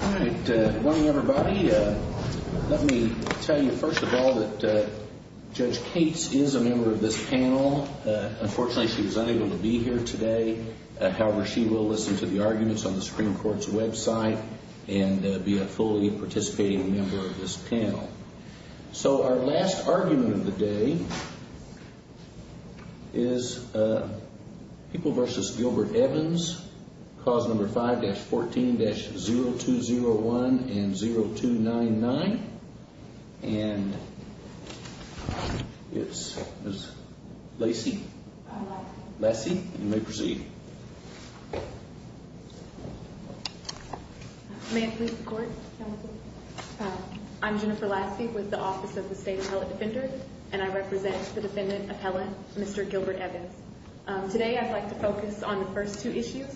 All right. Good morning, everybody. Let me tell you, first of all, that Judge Cates is a member of this panel. Unfortunately, she was unable to be here today. However, she will listen to the arguments on the Supreme Court's website and be a fully participating member of this panel. So our last argument of the day is People v. Gilbert Evans, Clause No. 5-14-0201 and 0299. And it's Ms. Lacey? I'm Lacey. Lacey, you may proceed. May it please the Court? I'm Jennifer Lacey with the Office of the State Appellate Defender, and I represent the defendant appellant, Mr. Gilbert Evans. Today I'd like to focus on the first two issues.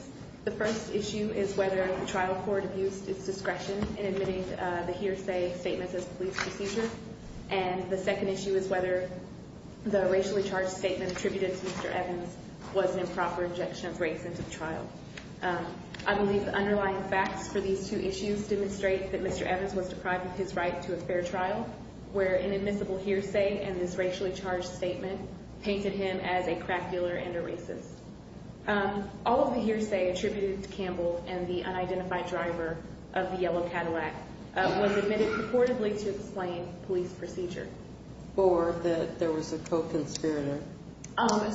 The first issue is whether the trial court used its discretion in admitting the hearsay statements as police procedure. And the second issue is whether the racially charged statement attributed to Mr. Evans was an improper injection of race into the trial. I believe the underlying facts for these two issues demonstrate that Mr. Evans was deprived of his right to a fair trial, where an admissible hearsay and this racially charged statement painted him as a crack dealer and a racist. All of the hearsay attributed to Campbell and the unidentified driver of the yellow Cadillac was admitted purportedly to explain police procedure. Or that there was a co-conspirator.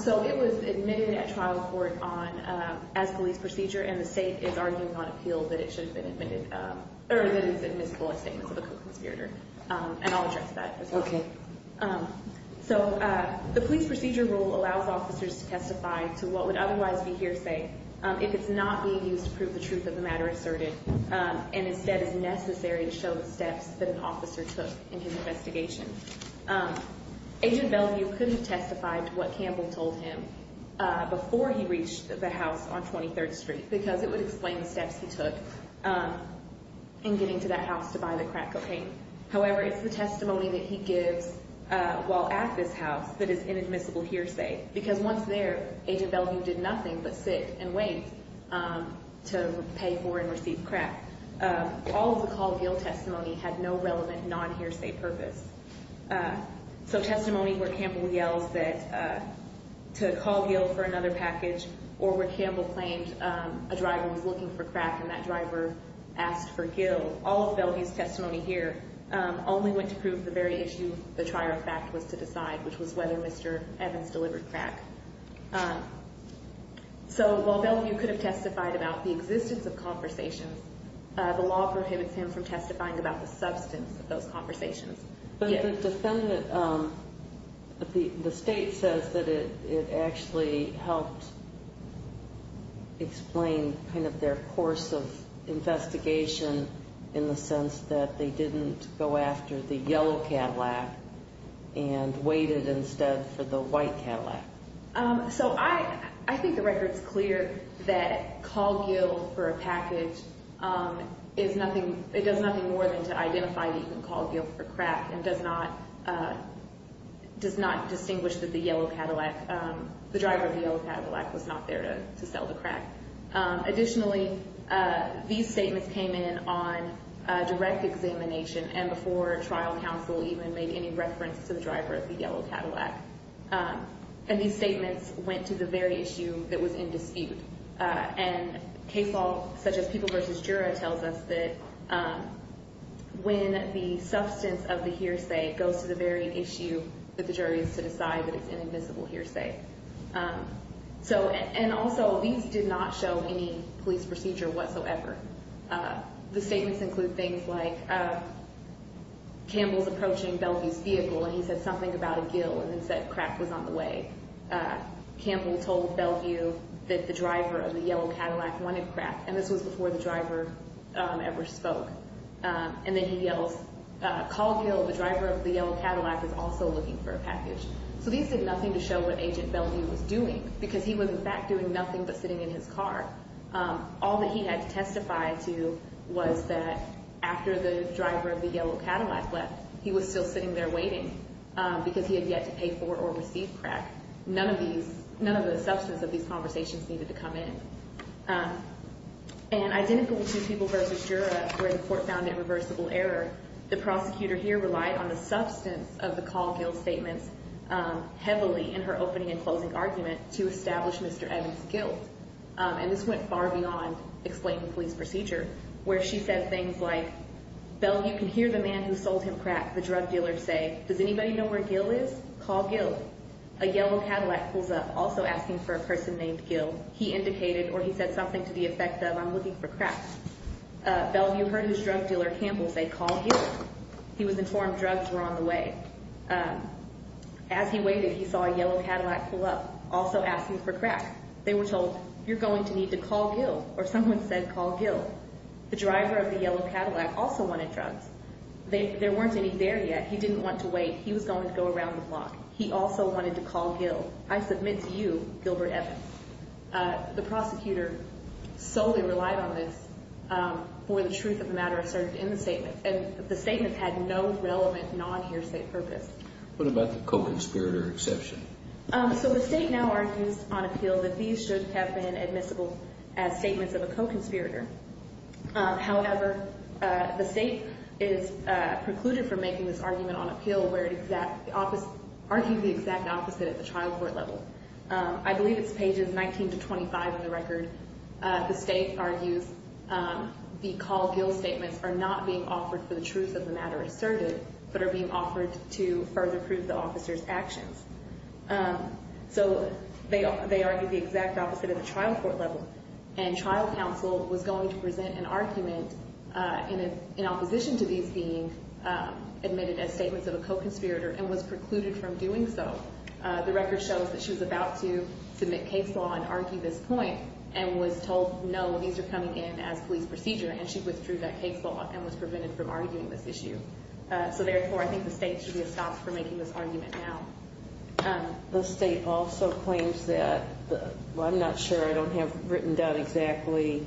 So it was admitted at trial court as police procedure, and the State is arguing on appeal that it should have been admitted, or that it is admissible as statements of a co-conspirator. And I'll address that as well. Okay. So the police procedure rule allows officers to testify to what would otherwise be hearsay if it's not being used to prove the truth of the matter asserted, and instead is necessary to show the steps that an officer took in his investigation. Agent Bellevue couldn't have testified to what Campbell told him before he reached the house on 23rd Street, because it would explain the steps he took in getting to that house to buy the crack cocaine. However, it's the testimony that he gives while at this house that is inadmissible hearsay. Because once there, Agent Bellevue did nothing but sit and wait to pay for and receive crack. All of the Caldwell testimony had no relevant non-hearsay purpose. So testimony where Campbell yells to Caldwell for another package, or where Campbell claims a driver was looking for crack and that driver asked for Gil, all of Bellevue's testimony here only went to prove the very issue the trier of fact was to decide, which was whether Mr. Evans delivered crack. So while Bellevue could have testified about the existence of conversations, the law prohibits him from testifying about the substance of those conversations. But the defendant, the state says that it actually helped explain kind of their course of investigation in the sense that they didn't go after the yellow Cadillac and waited instead for the white Cadillac. So I think the record's clear that Caldwell for a package is nothing, it does nothing more than to identify that you can call Gil for crack and does not distinguish that the yellow Cadillac, the driver of the yellow Cadillac was not there to sell the crack. Additionally, these statements came in on direct examination and before trial counsel even made any reference to the driver of the yellow Cadillac. And these statements went to the very issue that was in dispute. And case law such as People v. Jura tells us that when the substance of the hearsay goes to the very issue that the jury is to decide that it's an admissible hearsay. And also these did not show any police procedure whatsoever. The statements include things like Campbell's approaching Bellevue's vehicle and he said something about a gill and then said crack was on the way. Campbell told Bellevue that the driver of the yellow Cadillac wanted crack and this was before the driver ever spoke. And then he yells, Caldwell, the driver of the yellow Cadillac, is also looking for a package. So these did nothing to show what Agent Bellevue was doing because he was in fact doing nothing but sitting in his car. All that he had to testify to was that after the driver of the yellow Cadillac left, he was still sitting there waiting because he had yet to pay for or receive crack. None of these, none of the substance of these conversations needed to come in. And identical to People v. Jura where the court found irreversible error, the prosecutor here relied on the substance of the call gill statements heavily in her opening and closing argument to establish Mr. Evans' guilt. And this went far beyond explaining police procedure where she said things like, Bellevue can hear the man who sold him crack. The drug dealer say, does anybody know where gill is? Call gill. A yellow Cadillac pulls up, also asking for a person named gill. He indicated or he said something to the effect of, I'm looking for crack. Bellevue heard his drug dealer Campbell say, call gill. He was informed drugs were on the way. As he waited, he saw a yellow Cadillac pull up, also asking for crack. They were told, you're going to need to call gill or someone said call gill. The driver of the yellow Cadillac also wanted drugs. There weren't any there yet. He didn't want to wait. He was going to go around the block. He also wanted to call gill. I submit to you, Gilbert Evans. The prosecutor solely relied on this for the truth of the matter asserted in the statement. And the statement had no relevant non-hearsay purpose. What about the co-conspirator exception? So the state now argues on appeal that these should have been admissible as statements of a co-conspirator. However, the state is precluded from making this argument on appeal where it argues the exact opposite at the trial court level. I believe it's pages 19 to 25 of the record. The state argues the call gill statements are not being offered for the truth of the matter asserted, but are being offered to further prove the officer's actions. So they argue the exact opposite at the trial court level. And trial counsel was going to present an argument in opposition to these being admitted as statements of a co-conspirator and was precluded from doing so. The record shows that she was about to submit case law and argue this point and was told no, these are coming in as police procedure, and she withdrew that case law and was prevented from arguing this issue. So therefore, I think the state should be stopped from making this argument now. The state also claims that, well, I'm not sure. I don't have written down exactly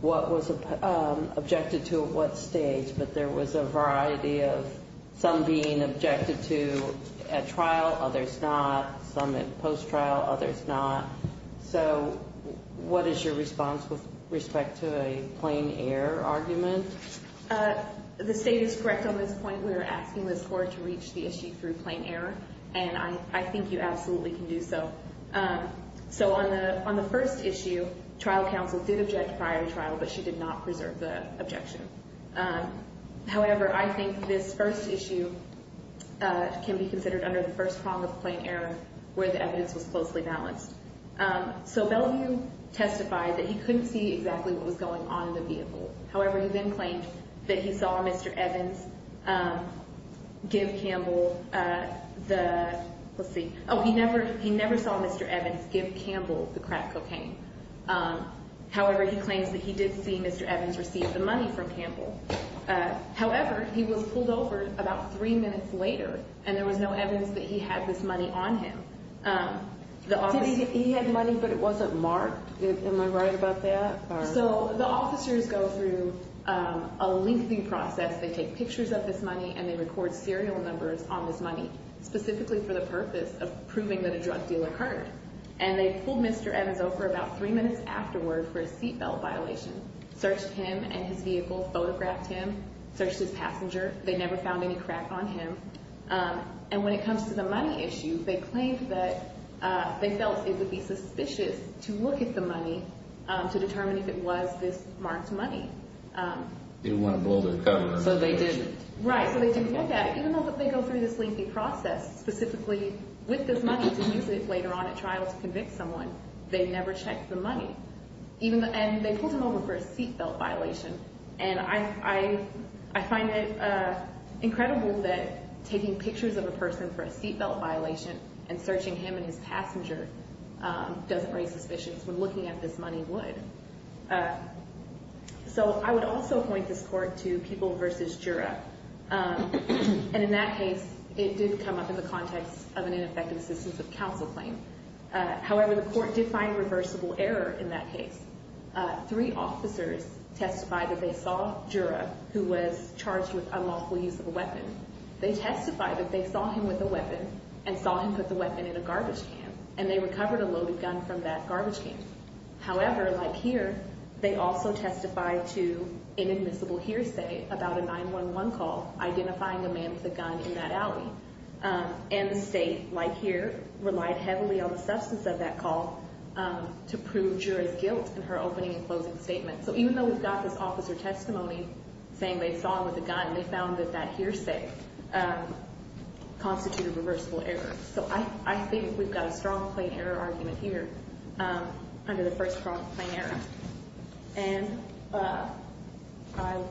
what was objected to at what stage, but there was a variety of some being objected to at trial, others not, some at post-trial, others not. So what is your response with respect to a plain error argument? The state is correct on this point. We are asking the court to reach the issue through plain error, and I think you absolutely can do so. So on the first issue, trial counsel did object to prior trial, but she did not preserve the objection. However, I think this first issue can be considered under the first prong of plain error where the evidence was closely balanced. So Bellevue testified that he couldn't see exactly what was going on in the vehicle. However, he claims that he did see Mr. Evans receive the money from Campbell. However, he was pulled over about three minutes later, and there was no evidence that he had this money on him. Did he have money, but it wasn't marked? Am I right about that? So the officers go through a lengthy process. They take pictures of this money, and they record serial numbers on this money specifically for the purpose of proving that a drug deal occurred. And they pulled Mr. Evans over about three minutes afterward for a seat belt violation, searched him and his vehicle, photographed him, searched his passenger. They never found any crack on him. And when it comes to the money issue, they claimed that they felt it would be suspicious to look at the money to determine if it was this marked money. They didn't want to blow their cover. Right, so they didn't look at it. Even though they go through this lengthy process specifically with this money to use it later on at trial to convict someone, they never checked the money. And they pulled him over for a seat belt violation. And I find it incredible that taking pictures of a person for a seat belt violation and searching him and his passenger doesn't raise suspicions when looking at this money would. So I would also point this court to People v. Jura. And in that case, it did come up in the context of an ineffective assistance of counsel claim. However, the court did find reversible error in that case. Three officers testified that they saw Jura, who was charged with unlawful use of a weapon. They testified that they saw him with a weapon and saw him put the weapon in a garbage can. And they recovered a loaded gun from that garbage can. However, like here, they also testified to an admissible hearsay about a 911 call identifying a man with a gun in that alley. And the state, like here, relied heavily on the substance of that call to prove Jura's guilt in her opening and closing statement. So even though we've got this officer testimony saying they saw him with a gun, they found that that hearsay constituted reversible error. So I think we've got a strong plain error argument here. Under the first prompt, plain error. And I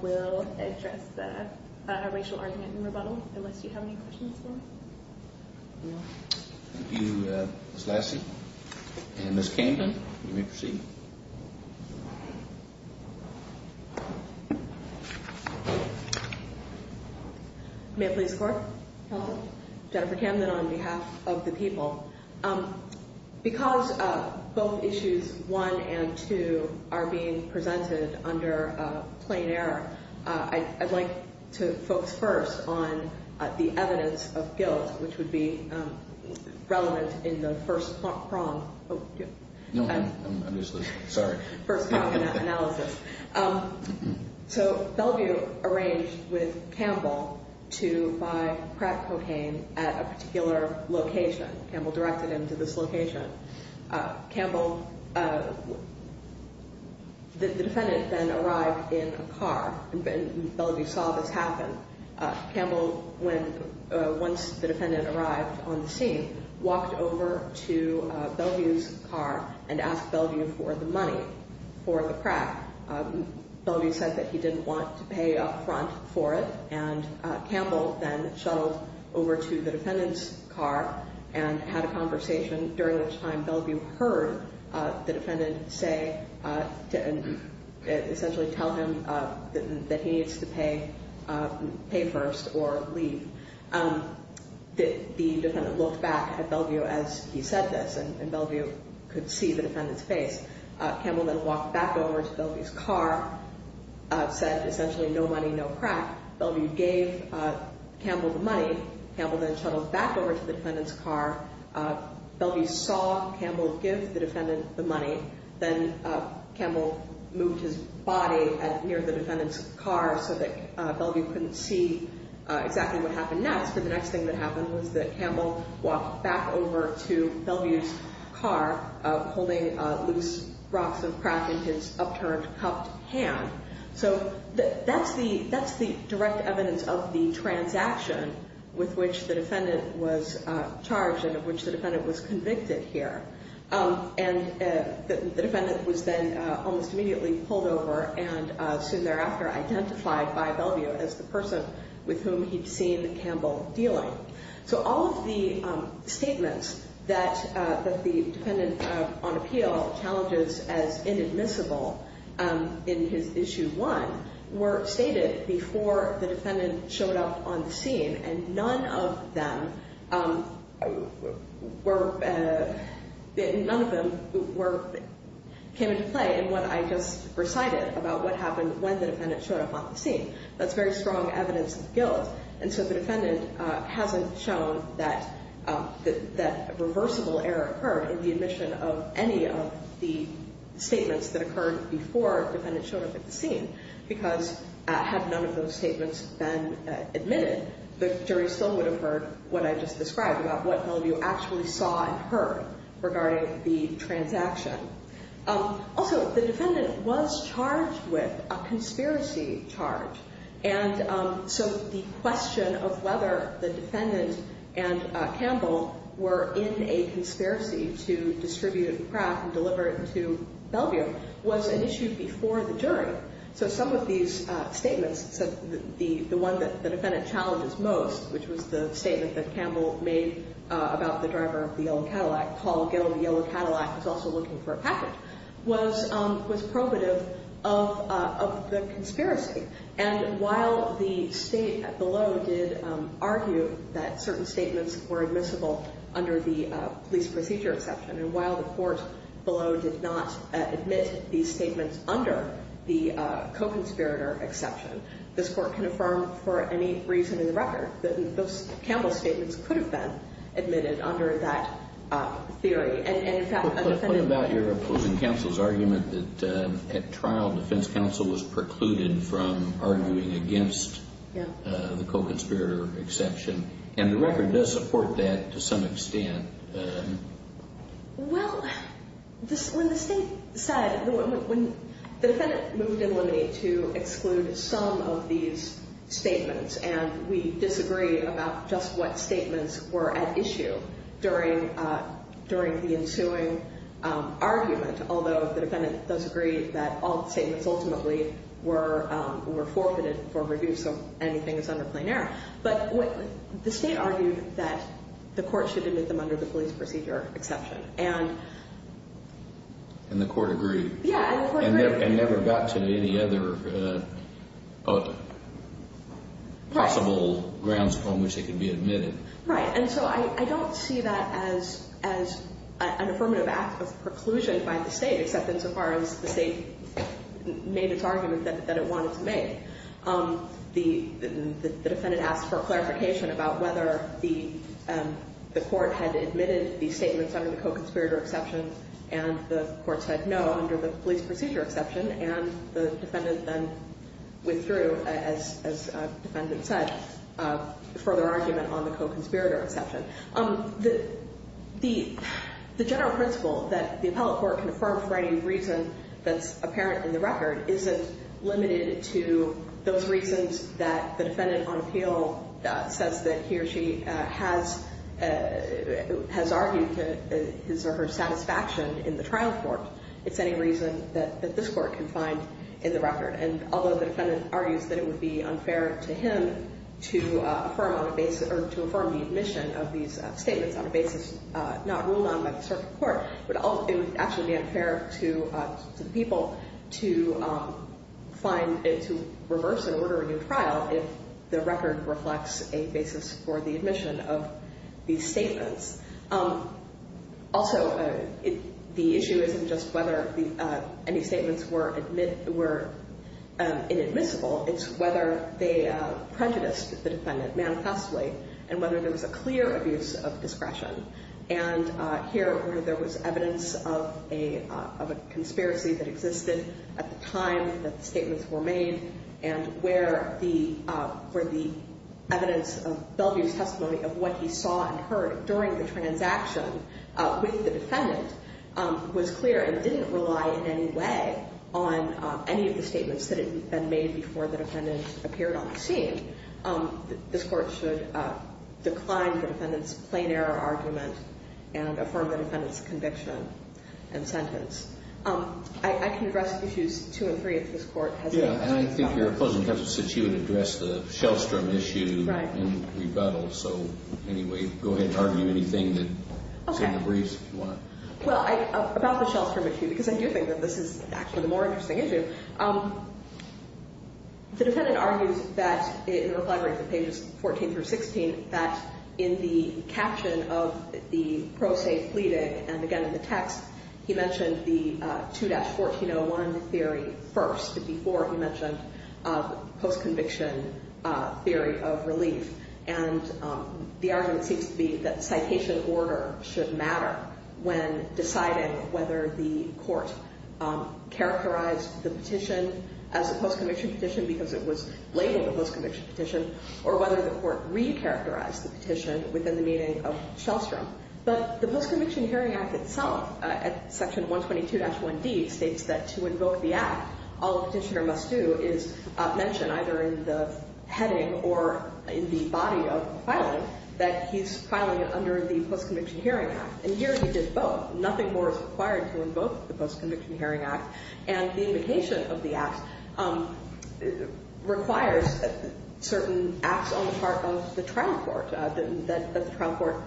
will address a racial argument and rebuttal, unless you have any questions for me. No. Thank you, Ms. Lassie. And Ms. Camden, you may proceed. May it please the Court? Counsel. Jennifer Camden on behalf of the People. Because both issues one and two are being presented under plain error, I'd like to focus first on the evidence of guilt, which would be relevant in the first prompt. No, I'm useless. Sorry. First prompt in that analysis. So Bellevue arranged with Campbell to buy crack cocaine at a particular location. Campbell directed him to this location. Campbell, the defendant then arrived in a car, and Bellevue saw this happen. Campbell, once the defendant arrived on the scene, walked over to Bellevue's car and asked Bellevue for the money for the crack. Bellevue said that he didn't want to pay up front for it. And Campbell then shuttled over to the defendant's car and had a conversation, during which time Bellevue heard the defendant say, essentially tell him that he needs to pay first or leave. The defendant looked back at Bellevue as he said this, and Bellevue could see the defendant's face. Campbell then walked back over to Bellevue's car, said essentially no money, no crack. Bellevue gave Campbell the money. Campbell then shuttled back over to the defendant's car. Bellevue saw Campbell give the defendant the money. Then Campbell moved his body near the defendant's car so that Bellevue couldn't see exactly what happened next. And the next thing that happened was that Campbell walked back over to Bellevue's car, holding loose rocks of crack in his upturned, cupped hand. So that's the direct evidence of the transaction with which the defendant was charged and of which the defendant was convicted here. And the defendant was then almost immediately pulled over and soon thereafter identified by Bellevue as the person with whom he'd seen Campbell dealing. So all of the statements that the defendant on appeal challenges as inadmissible in his Issue 1 were stated before the defendant showed up on the scene. And none of them came into play in what I just recited about what happened when the defendant showed up on the scene. That's very strong evidence of guilt. And so the defendant hasn't shown that a reversible error occurred in the admission of any of the statements that occurred before the defendant showed up at the scene. Because had none of those statements been admitted, the jury still would have heard what I just described about what Bellevue actually saw and heard regarding the transaction. Also, the defendant was charged with a conspiracy charge. And so the question of whether the defendant and Campbell were in a conspiracy to distribute the crack and deliver it to Bellevue was an issue before the jury. So some of these statements said that the one that the defendant challenges most, which was the statement that Campbell made about the driver of the yellow Cadillac, Paul Gill of the yellow Cadillac was also looking for a package, was probative of the conspiracy. And while the state below did argue that certain statements were admissible under the police procedure exception, and while the court below did not admit these statements under the co-conspirator exception, this court can affirm for any reason in the record that Campbell's statements could have been admitted under that theory. And in fact, a defendant... What about your opposing counsel's argument that at trial, defense counsel was precluded from arguing against the co-conspirator exception? And the record does support that to some extent. Well, when the state said... When the defendant moved in with me to exclude some of these statements, and we disagree about just what statements were at issue during the ensuing argument, although the defendant does agree that all statements ultimately were forfeited for review, so anything that's under plain error. But the state argued that the court should admit them under the police procedure exception. And the court agreed. Yeah, and the court agreed. And never got to any other possible grounds on which they could be admitted. Right, and so I don't see that as an affirmative act of preclusion by the state, except insofar as the state made its argument that it wanted to make. The defendant asked for clarification about whether the court had admitted these statements under the co-conspirator exception, and the court said no under the police procedure exception, and the defendant then withdrew, as the defendant said, for their argument on the co-conspirator exception. The general principle that the appellate court can affirm for any reason that's apparent in the record isn't limited to those reasons that the defendant on appeal says that he or she has argued to his or her satisfaction in the trial court. It's any reason that this court can find in the record. And although the defendant argues that it would be unfair to him to affirm on a basis, or to affirm the admission of these statements on a basis not ruled on by the circuit court, it would actually be unfair to the people to find it to reverse and order a new trial if the record reflects a basis for the admission of these statements. Also, the issue isn't just whether any statements were inadmissible. It's whether they prejudiced the defendant manifestly and whether there was a clear abuse of discretion. And here, where there was evidence of a conspiracy that existed at the time that the statements were made and where the evidence of Bellevue's testimony of what he saw and heard during the transaction with the defendant was clear and didn't rely in any way on any of the statements that had been made before the defendant appeared on the scene, this court should decline the defendant's plain error argument and affirm the defendant's conviction and sentence. I can address issues two and three if this court has any. And I think you're closing because you said you would address the Shellstrom issue in rebuttal. So anyway, go ahead and argue anything that's in the briefs if you want. Well, about the Shellstrom issue, because I do think that this is actually the more interesting issue, the defendant argues that in the reply brief at pages 14 through 16 that in the caption of the pro se pleading, and again in the text, he mentioned the 2-1401 theory first. But before, he mentioned post-conviction theory of relief. And the argument seems to be that citation order should matter when deciding whether the court characterized the petition as a post-conviction petition because it was labeled a post-conviction petition or whether the court re-characterized the petition within the meaning of Shellstrom. But the Post-Conviction Hearing Act itself at section 122-1D states that to invoke the act, all the petitioner must do is mention either in the heading or in the body of the filing that he's filing under the Post-Conviction Hearing Act. And here, he did both. Nothing more is required to invoke the Post-Conviction Hearing Act. And the invocation of the act requires certain acts on the part of the trial court, that the trial court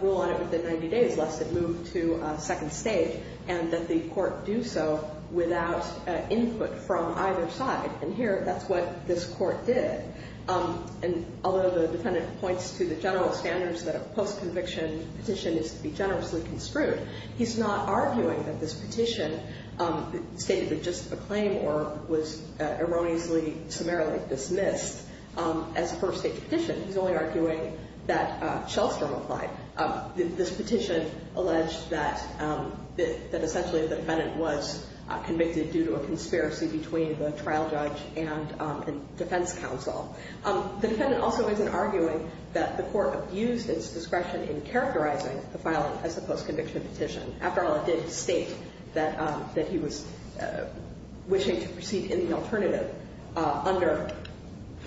rule on it within 90 days lest it move to second stage, and that the court do so without input from either side. And here, that's what this court did. And although the defendant points to the general standards that a post-conviction petition is to be generously construed, he's not arguing that this petition stated with just a claim or was erroneously summarily dismissed as a first-stage petition. He's only arguing that Shellstrom applied. This petition alleged that essentially the defendant was convicted due to a conspiracy between the trial judge and defense counsel. The defendant also isn't arguing that the court abused its discretion in characterizing the filing as a post-conviction petition. After all, it did state that he was wishing to proceed in the alternative under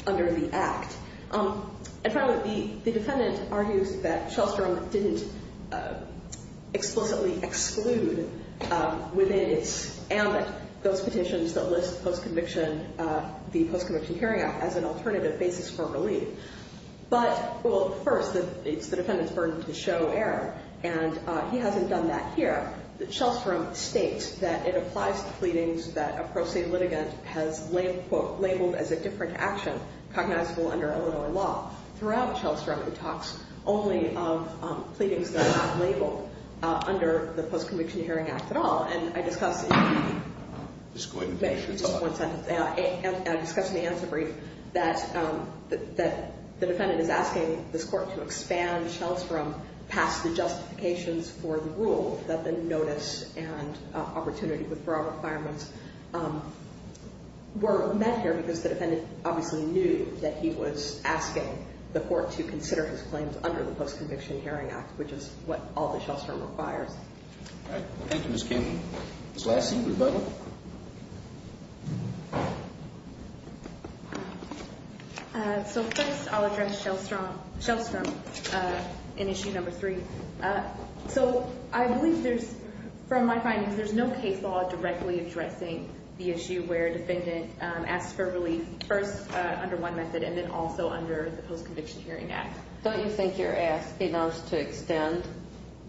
the act. And finally, the defendant argues that Shellstrom didn't explicitly exclude within its ambit those petitions that list the Post-Conviction Hearing Act as an alternative basis for relief. But first, it's the defendant's burden to show error, and he hasn't done that here. Shellstrom states that it applies to pleadings that a pro se litigant has labeled as a different action cognizable under Illinois law. Throughout Shellstrom, he talks only of pleadings that are not labeled under the Post-Conviction Hearing Act at all. And I discussed in the answer brief that the defendant is asking this court to expand Shellstrom past the justifications for the rule that the notice and opportunity withdrawal requirements were met here because the defendant obviously knew that he was asking the court to consider his claims under the Post-Conviction Hearing Act, which is what all the Shellstrom requires. All right. Thank you, Ms. Kim. Ms. Lassie, Rebecca? So first, I'll address Shellstrom in issue number three. So I believe there's, from my findings, there's no case law directly addressing the issue where a defendant asks for relief first under one method and then also under the Post-Conviction Hearing Act. Don't you think you're asking us to extend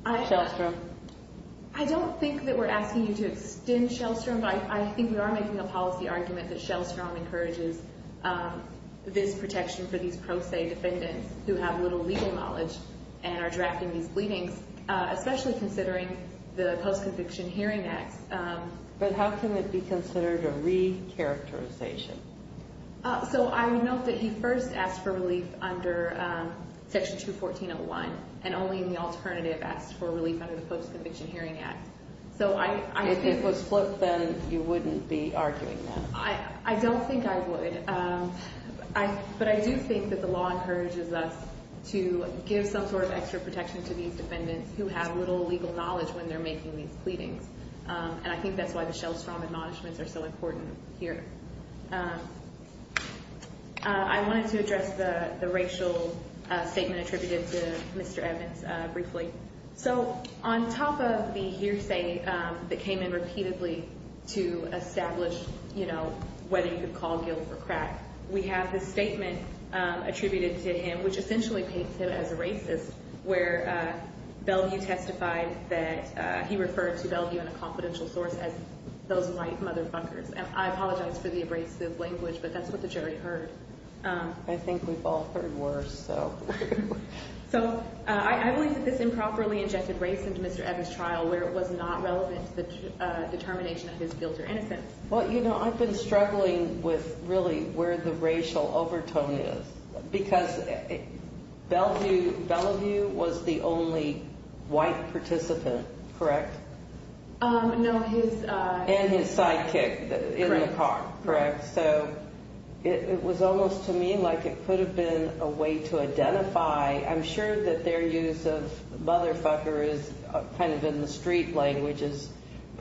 Shellstrom? I don't think that we're asking you to extend Shellstrom, but I think we are making a policy argument that Shellstrom encourages this protection for these pro se defendants who have little legal knowledge and are drafting these pleadings, especially considering the Post-Conviction Hearing Act. But how can it be considered a re-characterization? So I would note that he first asked for relief under Section 214.01 and only in the alternative asked for relief under the Post-Conviction Hearing Act. If it was flipped, then you wouldn't be arguing that? I don't think I would. But I do think that the law encourages us to give some sort of extra protection to these defendants who have little legal knowledge when they're making these pleadings. And I think that's why the Shellstrom admonishments are so important here. I wanted to address the racial statement attributed to Mr. Evans briefly. So on top of the hearsay that came in repeatedly to establish whether you could call guilt or crack, we have this statement attributed to him which essentially paints him as a racist where Bellevue testified that he referred to Bellevue and a confidential source as those white motherfuckers. And I apologize for the abrasive language, but that's what the jury heard. I think we've all heard worse. So I believe that this improperly injected race into Mr. Evans' trial where it was not relevant to the determination of his guilt or innocence. Well, you know, I've been struggling with really where the racial overtone is because Bellevue was the only white participant, correct? No, his sidekick in the park. Correct. So it was almost to me like it could have been a way to identify. I'm sure that their use of motherfucker is kind of in the street language is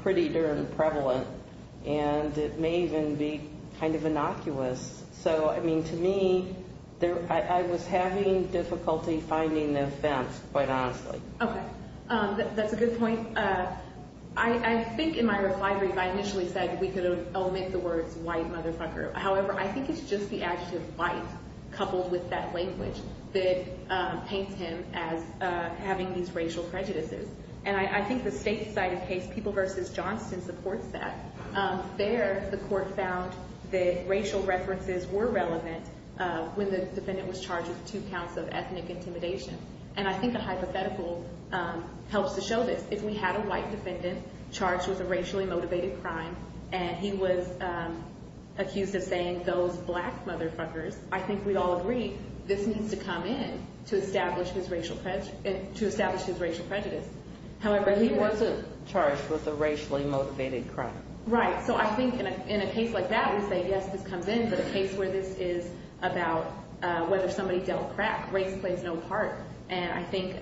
pretty darn prevalent. And it may even be kind of innocuous. So, I mean, to me, I was having difficulty finding the offense, quite honestly. Okay. That's a good point. I think in my reply brief I initially said we could omit the words white motherfucker. However, I think it's just the adjective white coupled with that language that paints him as having these racial prejudices. And I think the state side of the case, People v. Johnston, supports that. There the court found that racial references were relevant when the defendant was charged with two counts of ethnic intimidation. And I think a hypothetical helps to show this. If we had a white defendant charged with a racially motivated crime and he was accused of saying those black motherfuckers, I think we'd all agree this needs to come in to establish his racial prejudice. However, he wasn't charged with a racially motivated crime. Right. So I think in a case like that, we say, yes, this comes in. But a case where this is about whether somebody dealt crack, race plays no part. And I think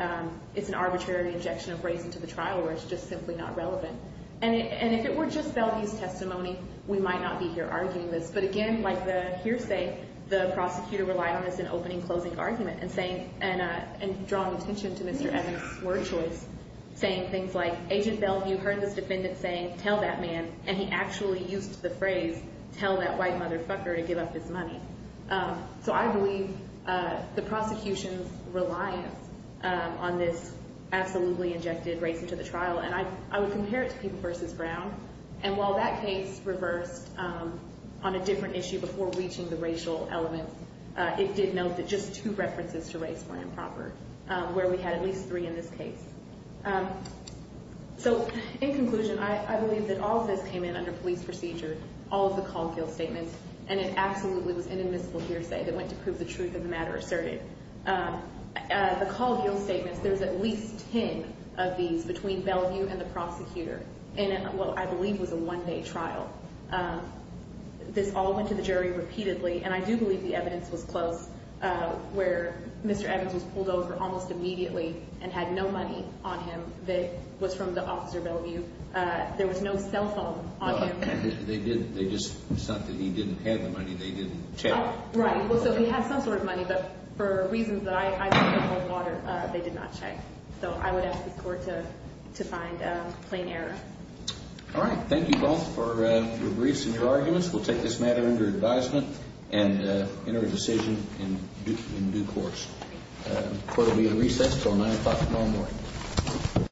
it's an arbitrary injection of race into the trial where it's just simply not relevant. And if it were just Valdez's testimony, we might not be here arguing this. But again, like the hearsay, the prosecutor relied on this in opening closing argument and saying and drawing attention to Mr. Evans' word choice, saying things like, Agent Bell, you heard this defendant saying, tell that man. And he actually used the phrase, tell that white motherfucker to give up his money. So I believe the prosecution's reliance on this absolutely injected race into the trial. And I would compare it to People v. Brown. And while that case reversed on a different issue before reaching the racial element, it did note that just two references to race were improper, where we had at least three in this case. So in conclusion, I believe that all of this came in under police procedure, all of the call of guilt statements. And it absolutely was inadmissible hearsay that went to prove the truth of the matter asserted. The call of guilt statements, there's at least ten of these between Bellevue and the prosecutor. And, well, I believe it was a one-day trial. This all went to the jury repeatedly. And I do believe the evidence was close, where Mr. Evans was pulled over almost immediately and had no money on him that was from the officer Bellevue. There was no cell phone on him. They just said that he didn't have the money. They didn't check. Right. So he had some sort of money. But for reasons that I don't know with water, they did not check. So I would ask the court to find plain error. All right. Thank you both for your briefs and your arguments. We'll take this matter under advisement and enter a decision in due course. The court will be in recess until 9 o'clock tomorrow morning.